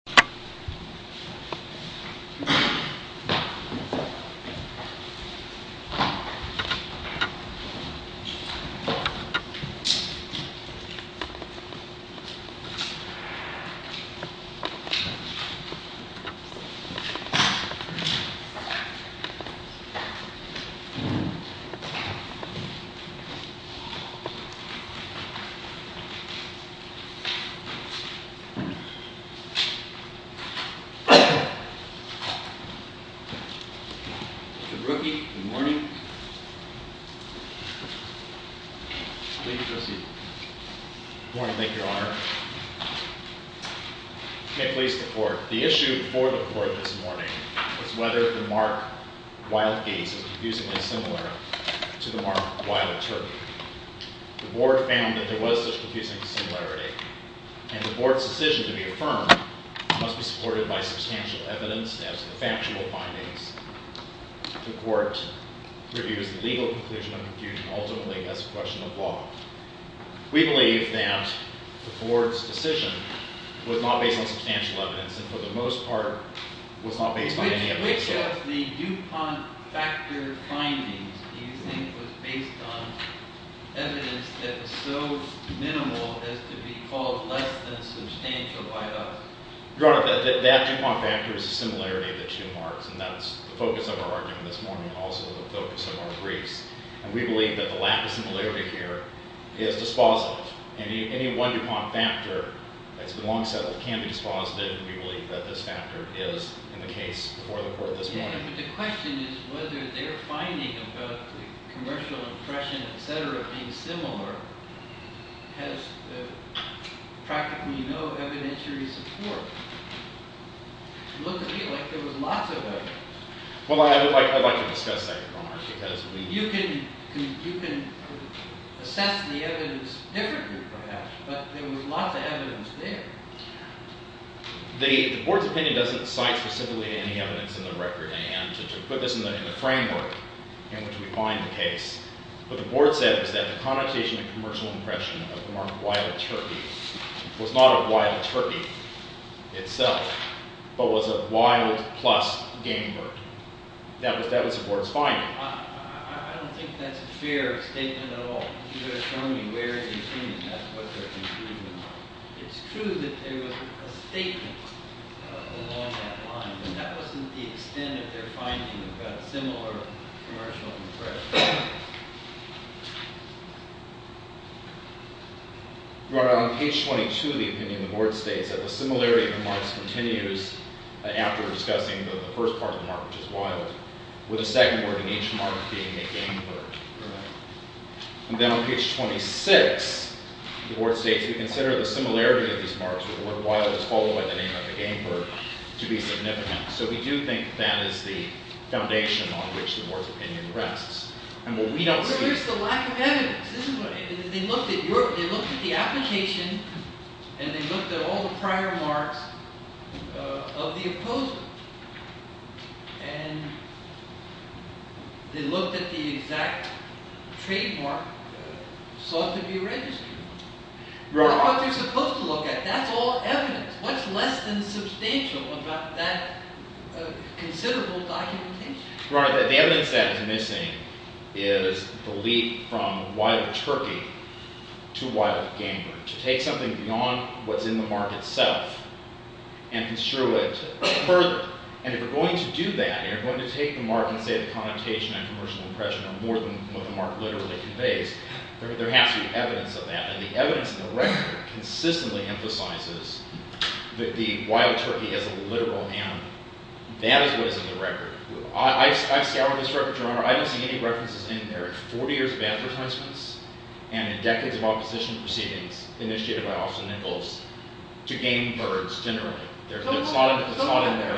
Lodestar v. Austin Nichols Mr. Brookie, good morning. Please proceed. Good morning, thank you, Your Honor. I can't please the Court. The issue before the Court this morning is whether the mark Wild Gates is confusingly similar to the mark Wild Turkey. The Board found that there was such confusing similarity, and the Board's decision to be affirmed must be supported by substantial evidence as to the factual findings. If the Court reviews the legal conclusion of confusion, ultimately, that's a question of law. We believe that the Board's decision was not based on substantial evidence, and for the most part, was not based on any evidence. Because the DuPont factor findings, do you think, was based on evidence that is so minimal as to be called less than substantial by us? Your Honor, that DuPont factor is a similarity of the two marks, and that's the focus of our argument this morning, and also the focus of our briefs. And we believe that the lack of similarity here is dispositive. Any one DuPont factor that's been long settled can be dispositive, and we believe that this factor is in the case before the Court this morning. Yeah, but the question is whether their finding about the commercial impression, et cetera, being similar, has practically no evidentiary support. It looked to me like there was lots of evidence. Well, I'd like to discuss that, Your Honor, because we... You can assess the evidence differently, perhaps, but there was lots of evidence there. The Board's opinion doesn't cite specifically any evidence in the record, and to put this in the framework in which we find the case, what the Board said is that the connotation of commercial impression of the mark of wild turkey was not of wild turkey itself, but was of wild plus game bird. That was the Board's finding. I don't think that's a fair statement at all. You're asking me where is the opinion. That's what their conclusion was. It's true that there was a statement along that line, but that wasn't the extent of their finding about similar commercial impressions. Your Honor, on page 22 of the opinion, the Board states that the similarity of the marks continues after discussing the first part of the mark, which is wild, with a second word in each mark being a game bird. Right. And then on page 26, the Board states, we consider the similarity of these marks with the word wild is followed by the name of a game bird to be significant. So we do think that is the foundation on which the Board's opinion rests. And what we don't see... But where's the lack of evidence? They looked at the application, and they looked at all the prior marks of the opposing. And they looked at the exact trademark sought to be registered. That's what they're supposed to look at. That's all evidence. What's less than substantial about that considerable documentation? Your Honor, the evidence that is missing is the leap from wild turkey to wild game bird, to take something beyond what's in the mark itself and construe it further. And if you're going to do that and you're going to take the mark and say the connotation and commercial impression are more than what the mark literally conveys, there has to be evidence of that. And the evidence in the record consistently emphasizes that the wild turkey is a literal animal. That is what is in the record. I've scoured this record, Your Honor. I don't see any references in there. There are 40 years of advertisements and decades of opposition proceedings initiated by Austin Nichols to game birds generally. It's not in there.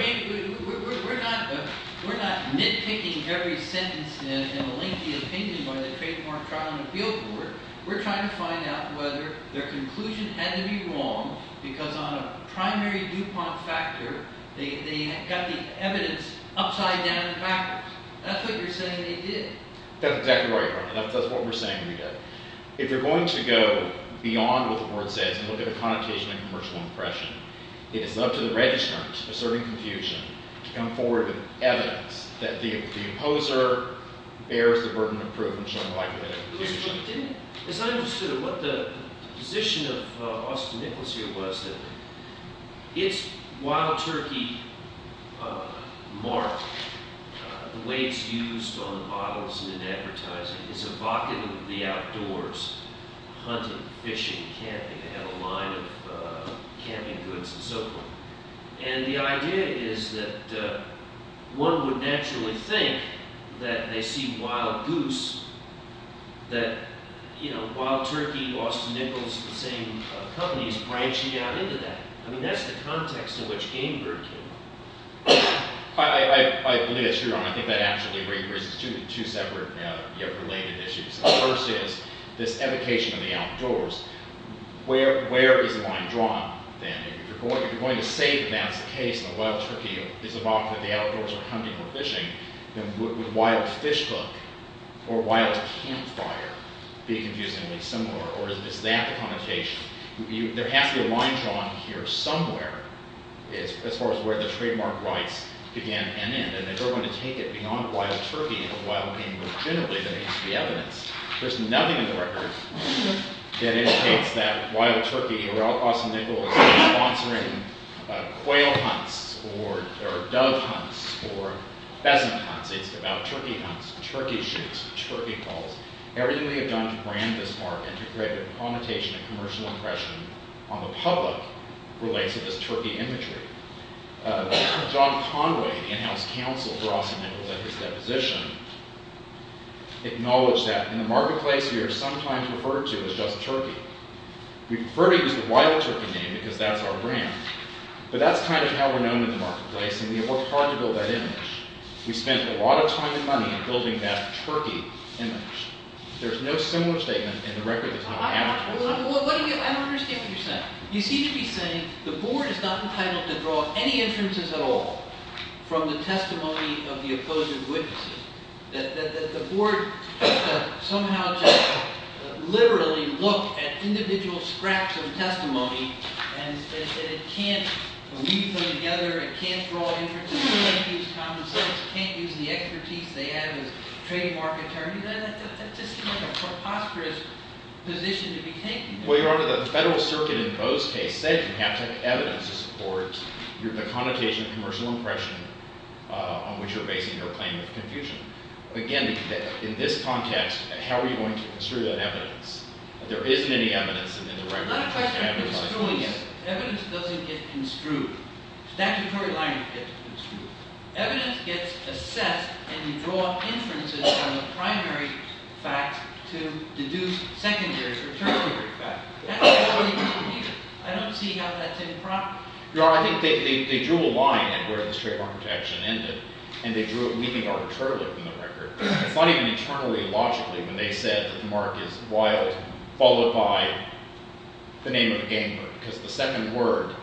We're not nitpicking every sentence in a lengthy opinion by the Trademark Trial and Appeal Court. We're trying to find out whether their conclusion had to be wrong because on a primary DuPont factor, they got the evidence upside down and backwards. That's what you're saying they did. That's exactly right, Your Honor. That's what we're saying we did. If you're going to go beyond what the word says and look at the connotation and commercial impression, it is up to the registrant, asserting confusion, to come forward with evidence that the opposer bears the burden of proof and showing the likelihood of opposition. As I understood it, what the position of Austin Nichols here was that its wild turkey mark, the way it's used on bottles and in advertising, is evocative of the outdoors, hunting, fishing, camping. They have a line of camping goods and so forth. And the idea is that one would naturally think that they see wild goose, that wild turkey, Austin Nichols, the same company, is branching out into that. I mean, that's the context in which Game Bird came up. I believe that's true, Your Honor. I think that actually raises two separate related issues. The first is this evocation of the outdoors. Where is the line drawn then? If you're going to say that that's the case and the wild turkey is evocative of the outdoors or hunting or fishing, then would wild fish hook or wild campfire be confusingly similar, or is that the connotation? There has to be a line drawn here somewhere as far as where the trademark rights began and end. And if they're going to take it beyond wild turkey and wild game goods generally, then there has to be evidence. There's nothing in the record that indicates that wild turkey or Austin Nichols is sponsoring quail hunts or dove hunts or pheasant hunts. It's about turkey hunts, turkey shoots, turkey calls. Everything we have done to brand this market to create a connotation and commercial impression on the public relates to this turkey imagery. John Conway, the in-house counsel for Austin Nichols at his deposition, acknowledged that in the marketplace we are sometimes referred to as just turkey. We prefer to use the wild turkey name because that's our brand. But that's kind of how we're known in the marketplace, and we have worked hard to build that image. We spent a lot of time and money in building that turkey image. There's no similar statement in the record that's not accurate. I don't understand what you're saying. You seem to be saying the board is not entitled to draw any inferences at all from the testimony of the opposing witnesses, that the board somehow just literally looked at individual scraps of testimony and said it can't weave them together. It can't draw inferences. It can't use common sense. It can't use the expertise they have as trademark attorneys. That just seems like a preposterous position to be taking. Well, Your Honor, the federal circuit in Bo's case said you have to have evidence to support the connotation of commercial impression on which you're basing your claim of confusion. Again, in this context, how are you going to construe that evidence? There isn't any evidence in the record. Not a question of construing it. Evidence doesn't get construed. Statutory language gets construed. Evidence gets assessed, and you draw inferences from the primary fact to deduce secondary or tertiary facts. That's how you do it. I don't see how that's improper. Your Honor, I think they drew a line at where this trademark protection ended, and they drew it leaving arbitrarily in the record. It's not even internally logically when they said that the mark is wild followed by the name of a game bird. Because the second word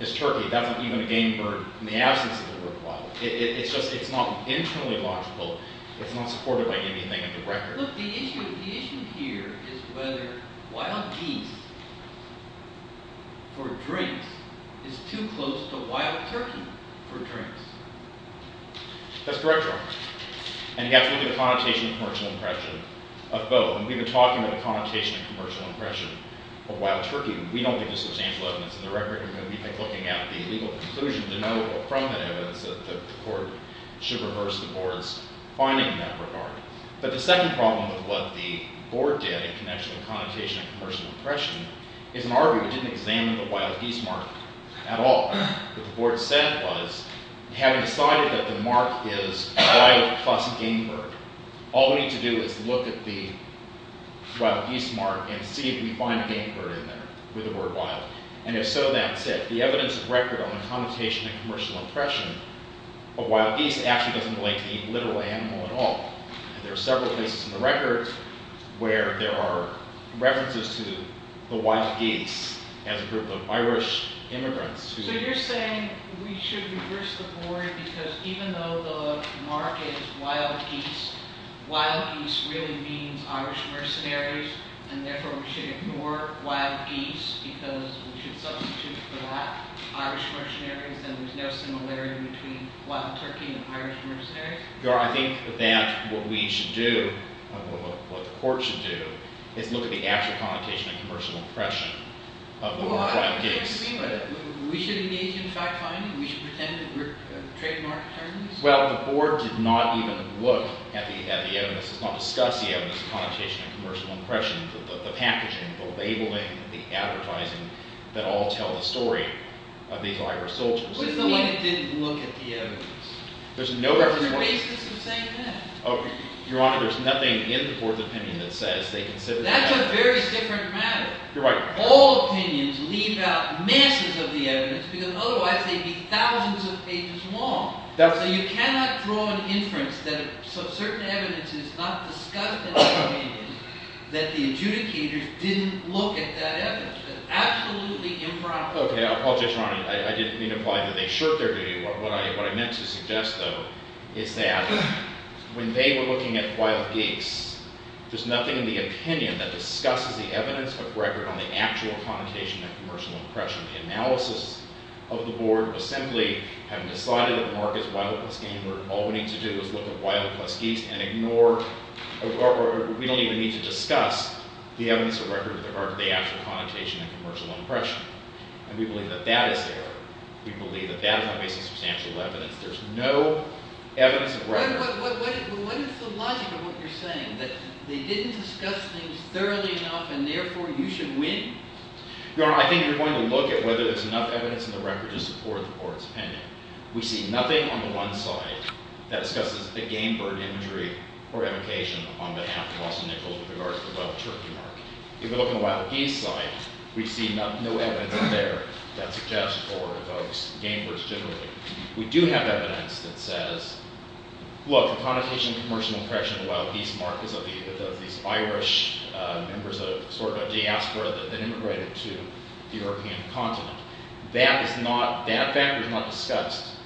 is turkey. That's not even a game bird in the absence of the word wild. It's just it's not internally logical. It's not supported by anything in the record. Look, the issue here is whether wild geese for drinks is too close to wild turkey for drinks. That's correct, Your Honor. And you have to look at the connotation of commercial impression of Bo. And we've been talking about the connotation of commercial impression of wild turkey. We don't think this will change the evidence in the record. We're going to be looking at the legal conclusion denotable from the evidence that the court should reverse the board's finding in that regard. But the second problem with what the board did in connection with connotation of commercial impression is an argument. We didn't examine the wild geese mark at all. What the board said was, having decided that the mark is wild plus game bird, all we need to do is look at the wild geese mark and see if we find a game bird in there. And if so, that's it. The evidence of record on the connotation of commercial impression of wild geese actually doesn't relate to the literal animal at all. There are several cases in the record where there are references to the wild geese as a group of Irish immigrants. So you're saying we should reverse the board because even though the mark is wild geese, wild geese really means Irish mercenaries. And therefore, we should ignore wild geese because we should substitute for that Irish mercenaries. And there's no similarity between wild turkey and Irish mercenaries? Your Honor, I think that what we should do, what the court should do, is look at the actual connotation of commercial impression of the wild geese. We should engage in fact-finding? We should pretend that we're trademark attorneys? Well, the board did not even look at the evidence. It's not discussed the evidence of connotation of commercial impression. The packaging, the labeling, the advertising that all tell the story of these Irish soldiers. But it's not like it didn't look at the evidence. There's no reference point. There's no basis in saying that. Your Honor, there's nothing in the board's opinion that says they considered- That's a very different matter. You're right. All opinions leave out masses of the evidence because otherwise they'd be thousands of pages long. So you cannot draw an inference that certain evidence is not discussed in the opinion that the adjudicators didn't look at that evidence. That's absolutely impractical. Okay. I apologize, Your Honor. I didn't mean to imply that they shirked their view. What I meant to suggest, though, is that when they were looking at wild geese, there's nothing in the opinion that discusses the evidence of record on the actual connotation of commercial impression. The analysis of the board was simply having decided that the mark is wild goose game. All we need to do is look at wild goose geese and ignore or we don't even need to discuss the evidence of record with regard to the actual connotation of commercial impression. And we believe that that is error. We believe that that is not based on substantial evidence. There's no evidence of record. But what is the logic of what you're saying, that they didn't discuss things thoroughly enough and therefore you should win? Your Honor, I think you're going to look at whether there's enough evidence in the record to support the board's opinion. We see nothing on the one side that discusses the game bird imagery or evocation on behalf of Austin Nichols with regard to the wild turkey mark. If you look on the wild geese side, we see no evidence in there that suggests or evokes game birds generally. We do have evidence that says, look, the connotation of commercial impression of the wild geese mark is of these Irish members of sort of a diaspora that immigrated to the European continent. That is not – that factor is not discussed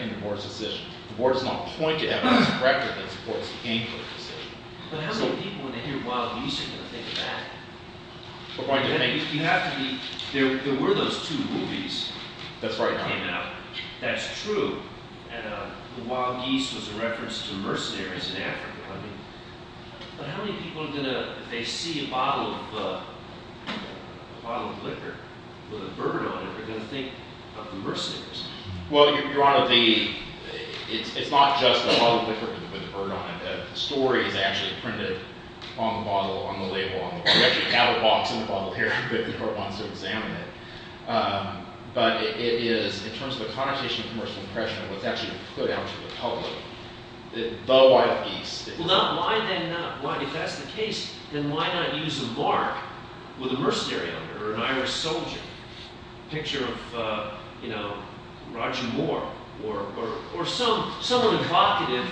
in the board's decision. The board does not point to evidence of record that supports the game bird decision. But how many people when they hear wild geese are going to think of that? You have to be – there were those two movies. That's right, Your Honor. That came out. That's true. And the wild geese was a reference to mercenaries in Africa. But how many people are going to – if they see a bottle of liquor with a bird on it, are going to think of the mercenaries? Well, Your Honor, the – it's not just a bottle of liquor with a bird on it. The story is actually printed on the bottle, on the label on the bottle. We actually have a box on the bottle here if the court wants to examine it. But it is in terms of the connotation of commercial impression of what's actually put out to the public, the wild geese. Well, why then not? If that's the case, then why not use a mark with a mercenary on it or an Irish soldier? A picture of, you know, Roger Moore or someone evocative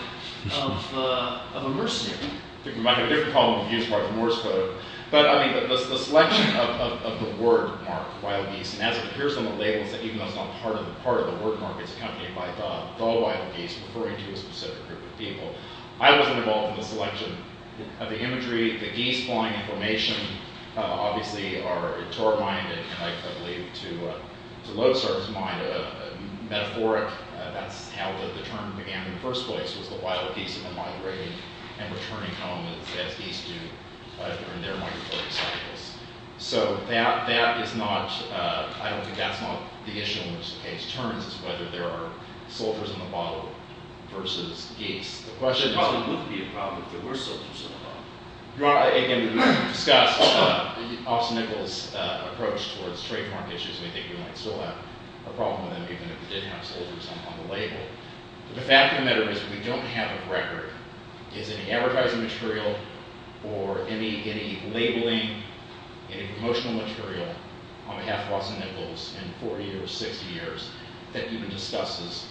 of a mercenary. I think we might have a different problem if we use Roger Moore's photo. But, I mean, the selection of the word mark, wild geese, and as it appears on the labels that even though it's not part of the word mark, it's accompanied by the wild geese referring to a specific group of people. I wasn't involved in the selection of the imagery. The geese flying in formation obviously are a tour of mind and, I believe, to load service mind. Metaphoric, that's how the term began in the first place, was the wild geese migrating and returning home as geese do in their migratory cycles. So that is not – I don't think that's not the issue in which the case turns, is whether there are soldiers in the bottle versus geese. The problem would be a problem if there were soldiers in the bottle. Your Honor, again, we discussed Officer Nichols' approach towards trademark issues. We think we might still have a problem with them even if we did have soldiers on the label. But the fact of the matter is we don't have a record. Is any advertising material or any labeling, any promotional material on behalf of Officer Nichols in 40 or 60 years that even discusses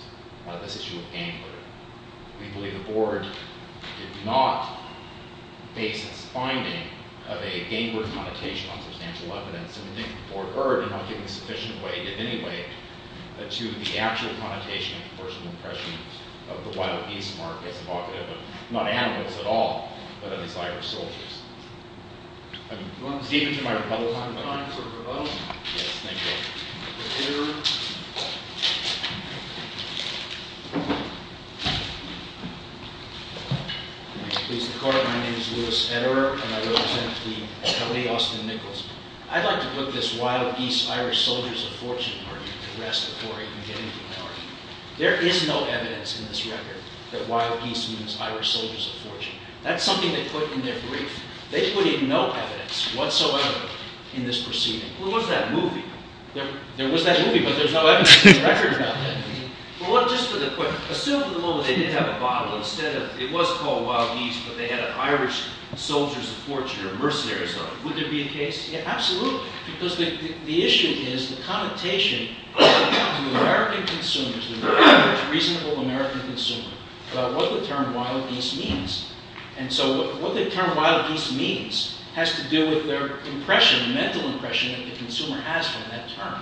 this issue of anger? We believe the Board did not base its finding of a game bird connotation on substantial evidence. And we think the Board heard in not giving sufficient weight, if any weight, to the actual connotation and personal impression of the wild geese mark as evocative of not animals at all, but of the desire for soldiers. Do you want to speak into my rebuttal microphone? Yes, thank you. My name is Louis Etterer, and I represent the L.A. Austin Nichols. I'd like to put this wild geese, Irish soldiers of fortune argument to rest before I can get into my argument. There is no evidence in this record that wild geese means Irish soldiers of fortune. That's something they put in their brief. They put in no evidence whatsoever in this proceeding. There was that movie, but there's no evidence in the record about that. Assume for the moment they did have a bottle instead of – it was called wild geese, but they had an Irish soldiers of fortune or mercenaries on it. Would there be a case? Yeah, absolutely. Because the issue is the connotation to American consumers, reasonable American consumers, about what the term wild geese means. And so what the term wild geese means has to do with their impression, mental impression that the consumer has from that term.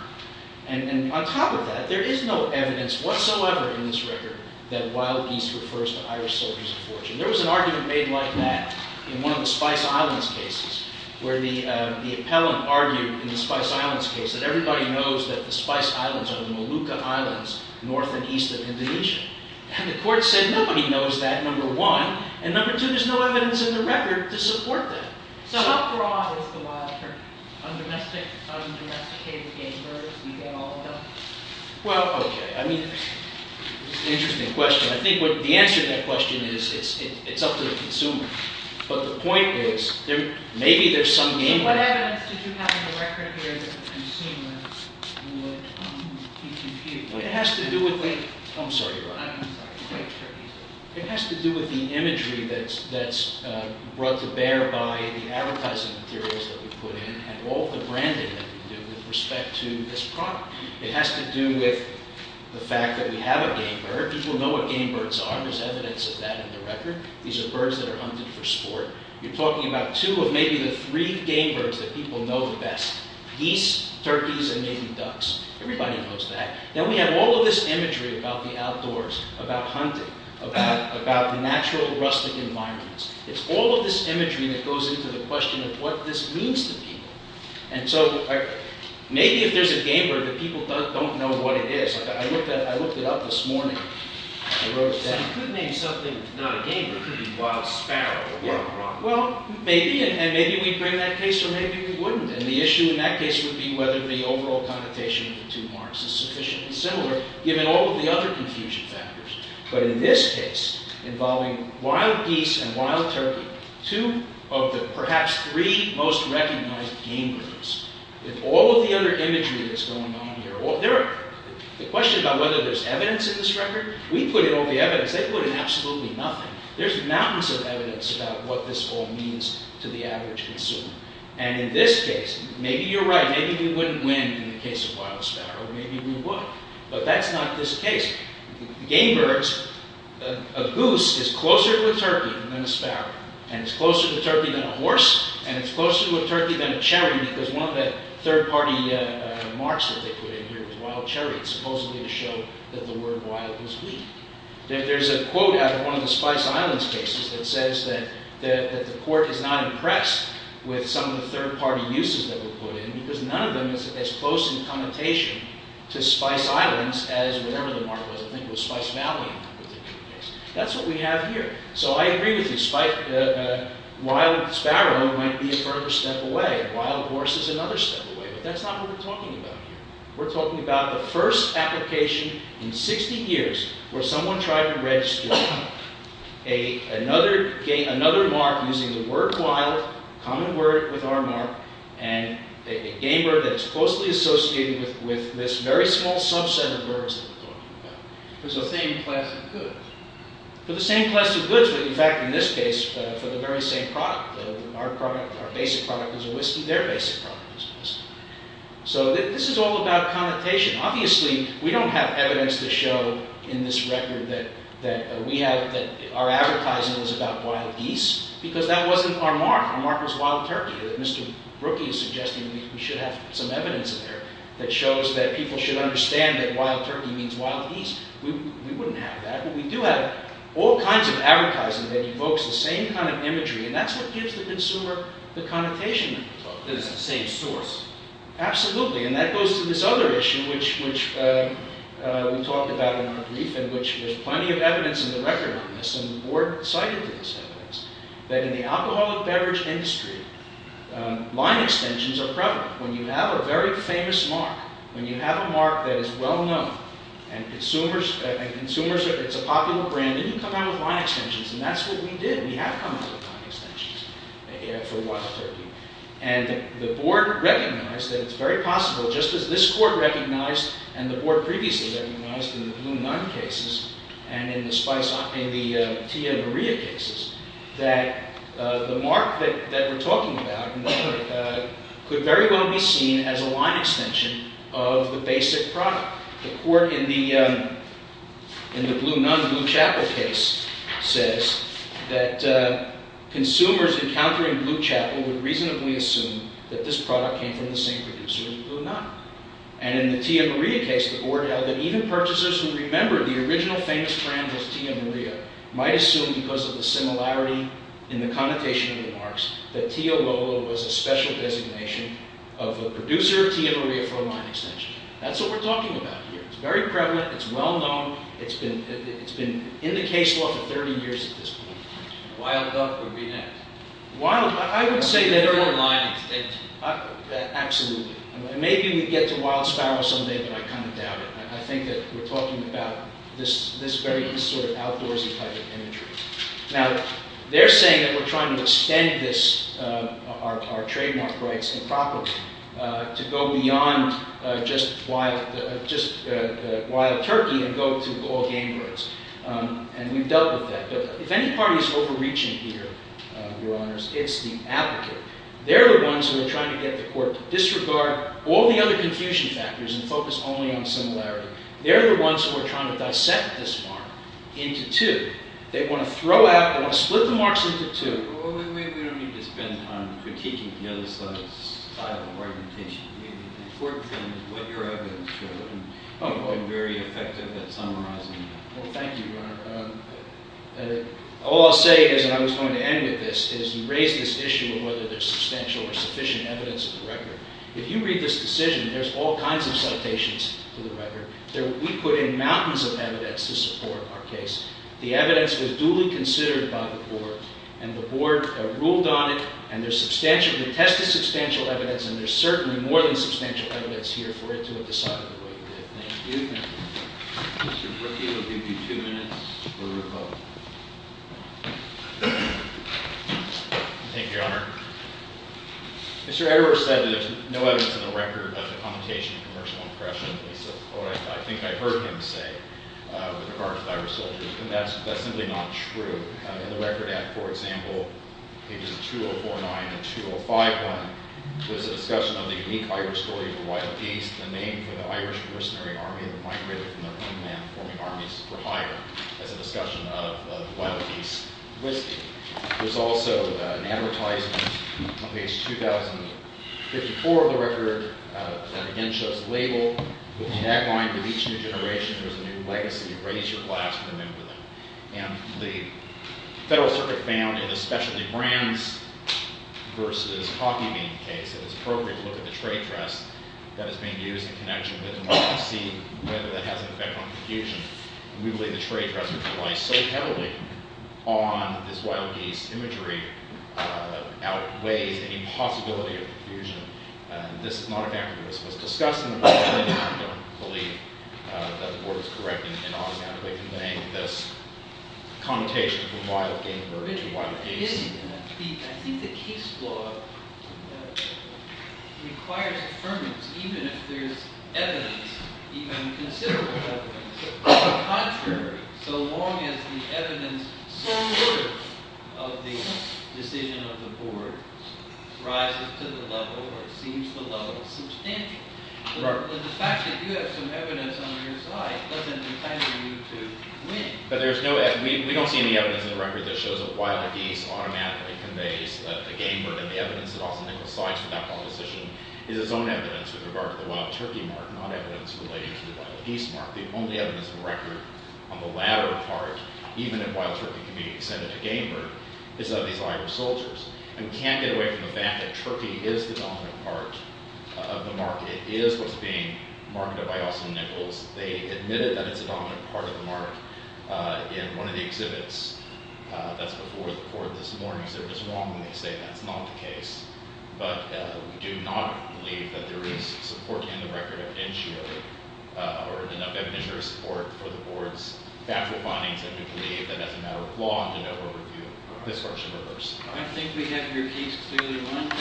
And on top of that, there is no evidence whatsoever in this record that wild geese refers to Irish soldiers of fortune. There was an argument made like that in one of the Spice Islands cases where the appellant argued in the Spice Islands case that everybody knows that the Spice Islands are the Molucca Islands north and east of Indonesia. And the court said nobody knows that, number one. And number two, there's no evidence in the record to support that. So how broad is the wild term? Undomesticated game birds, we get all of them. Well, okay. I mean, interesting question. I think the answer to that question is it's up to the consumer. But the point is maybe there's some game. So what evidence did you have in the record here that the consumer would come to the PTP? It has to do with the imagery that's brought to bear by the advertising materials that we put in and all the branding that we do with respect to this product. It has to do with the fact that we have a game bird. People know what game birds are. There's evidence of that in the record. These are birds that are hunted for sport. You're talking about two of maybe the three game birds that people know the best, geese, turkeys, and maybe ducks. Everybody knows that. Now, we have all of this imagery about the outdoors, about hunting, about the natural, rustic environments. It's all of this imagery that goes into the question of what this means to people. And so maybe if there's a game bird that people don't know what it is. I looked it up this morning. I wrote it down. You could name something not a game bird. It could be wild sparrow or what have you. Well, maybe. And maybe we'd bring that case, or maybe we wouldn't. And the issue in that case would be whether the overall connotation of the two marks is sufficiently similar given all of the other confusion factors. But in this case, involving wild geese and wild turkey, two of the perhaps three most recognized game birds. With all of the other imagery that's going on here. The question about whether there's evidence in this record. We put in all the evidence. They put in absolutely nothing. There's mountains of evidence about what this all means to the average consumer. And in this case, maybe you're right. Maybe we wouldn't win in the case of wild sparrow. Maybe we would. But that's not this case. Game birds, a goose is closer to a turkey than a sparrow. And it's closer to a turkey than a horse. And it's closer to a turkey than a cherry. Because one of the third party marks that they put in here was wild cherry. Supposedly to show that the word wild was weak. There's a quote out of one of the Spice Islands cases that says that the court is not impressed with some of the third party uses that were put in. Because none of them is as close in connotation to Spice Islands as whatever the mark was. I think it was Spice Valley in that particular case. That's what we have here. So I agree with you. Wild sparrow might be a further step away. Wild horse is another step away. But that's not what we're talking about here. We're talking about the first application in 60 years where someone tried to register another mark using the word wild. Common word with our mark. And a game bird that's closely associated with this very small subset of birds that we're talking about. For the same class of goods. For the same class of goods. In fact, in this case, for the very same product. Our product, our basic product is a whiskey. Their basic product is a whiskey. So this is all about connotation. Obviously, we don't have evidence to show in this record that our advertising is about wild geese. Because that wasn't our mark. Our mark was wild turkey. Mr. Brookie is suggesting that we should have some evidence in there that shows that people should understand that wild turkey means wild geese. We wouldn't have that. But we do have all kinds of advertising that evokes the same kind of imagery. And that's what gives the consumer the connotation that we're talking about. It's the same source. Absolutely. And that goes to this other issue which we talked about in our brief. And which there's plenty of evidence in the record on this. And the board cited this evidence. That in the alcoholic beverage industry, line extensions are prevalent. When you have a very famous mark. When you have a mark that is well known. And consumers, it's a popular brand. Then you come out with line extensions. And that's what we did. We have come out with line extensions for wild turkey. And the board recognized that it's very possible, just as this court recognized and the board previously recognized in the Blue Nun cases. And in the Tia Maria cases. That the mark that we're talking about could very well be seen as a line extension of the basic product. The court in the Blue Nun, Blue Chapel case says that consumers encountering Blue Chapel would reasonably assume that this product came from the same producer as Blue Nun. And in the Tia Maria case, the board held that even purchasers who remember the original famous brand as Tia Maria. Might assume because of the similarity in the connotation of the marks. That Tia Lola was a special designation of the producer of Tia Maria for a line extension. That's what we're talking about here. It's very prevalent. It's well known. It's been in the case law for 30 years at this point. Wild duck would be next. Wild duck. I would say that. Or a line extension. Absolutely. Maybe we get to wild sparrow someday but I kind of doubt it. I think that we're talking about this very sort of outdoorsy type of imagery. Now, they're saying that we're trying to extend this, our trademark rights improperly. To go beyond just wild turkey and go to all game birds. And we've dealt with that. If any party is overreaching here, your honors, it's the advocate. They're the ones who are trying to get the court to disregard all the other confusion factors and focus only on similarity. They're the ones who are trying to dissect this mark into two. They want to throw out, they want to split the marks into two. We don't need to spend time critiquing the other side's style of argumentation. The important thing is what your evidence shows. I'm very effective at summarizing that. Well, thank you, your honor. All I'll say is, and I was going to end with this, is you raised this issue of whether there's substantial or sufficient evidence in the record. If you read this decision, there's all kinds of citations to the record. We put in mountains of evidence to support our case. The evidence was duly considered by the board, and the board ruled on it, and there's substantial, we tested substantial evidence, and there's certainly more than substantial evidence here for it to have decided the way it did. Thank you. Mr. Brookie will give you two minutes for rebuttal. Thank you, your honor. Mr. Edwards said that there's no evidence in the record of the commutation of commercial oppression. That's what I think I heard him say with regard to the Irish soldiers, and that's simply not true. In the Record Act, for example, pages 2049 and 2051, there's a discussion of the unique Irish story of the wild beast, the name for the Irish mercenary army that migrated from their own land-forming armies for hire as a discussion of the wild beast listing. There's also an advertisement on page 2054 of the record that again shows the label with the tagline, With each new generation, there's a new legacy. Raise your glass and remember them. And the Federal Circuit found in the specialty brands versus coffee bean case that it's appropriate to look at the trade dress that is being used in connection with democracy, whether that has an effect on profusion. We believe the trade dress was applied so heavily on this wild geese imagery outweighs any possibility of profusion. This is not a fact that was discussed in the record, and I don't believe that the board was correct in automatically conveying this connotation from wild geese to original wild geese. I think the case law requires affirmance, even if there's evidence, even considerable evidence, or contrary, so long as the evidence, some word of the decision of the board rises to the level or exceeds the level of substantial. The fact that you have some evidence on your side doesn't entitle you to win. We don't see any evidence in the record that shows that wild geese automatically conveys that the game bird and the evidence that Austin Nichols sides with that proposition is its own evidence with regard to the wild turkey mark, not evidence related to the wild geese mark. The only evidence in the record on the latter part, even if wild turkey can be extended to game bird, is of these Irish soldiers. And we can't get away from the fact that turkey is the dominant part of the mark. It is what's being marketed by Austin Nichols. They admitted that it's a dominant part of the mark in one of the exhibits that's before the court this morning. They're just wrong when they say that's not the case. But we do not believe that there is support in the record evidentially, or enough evidentiary support for the board's factual findings that we believe that as a matter of law, the NOAA would review this part of the verse. I think we have your case clearly won.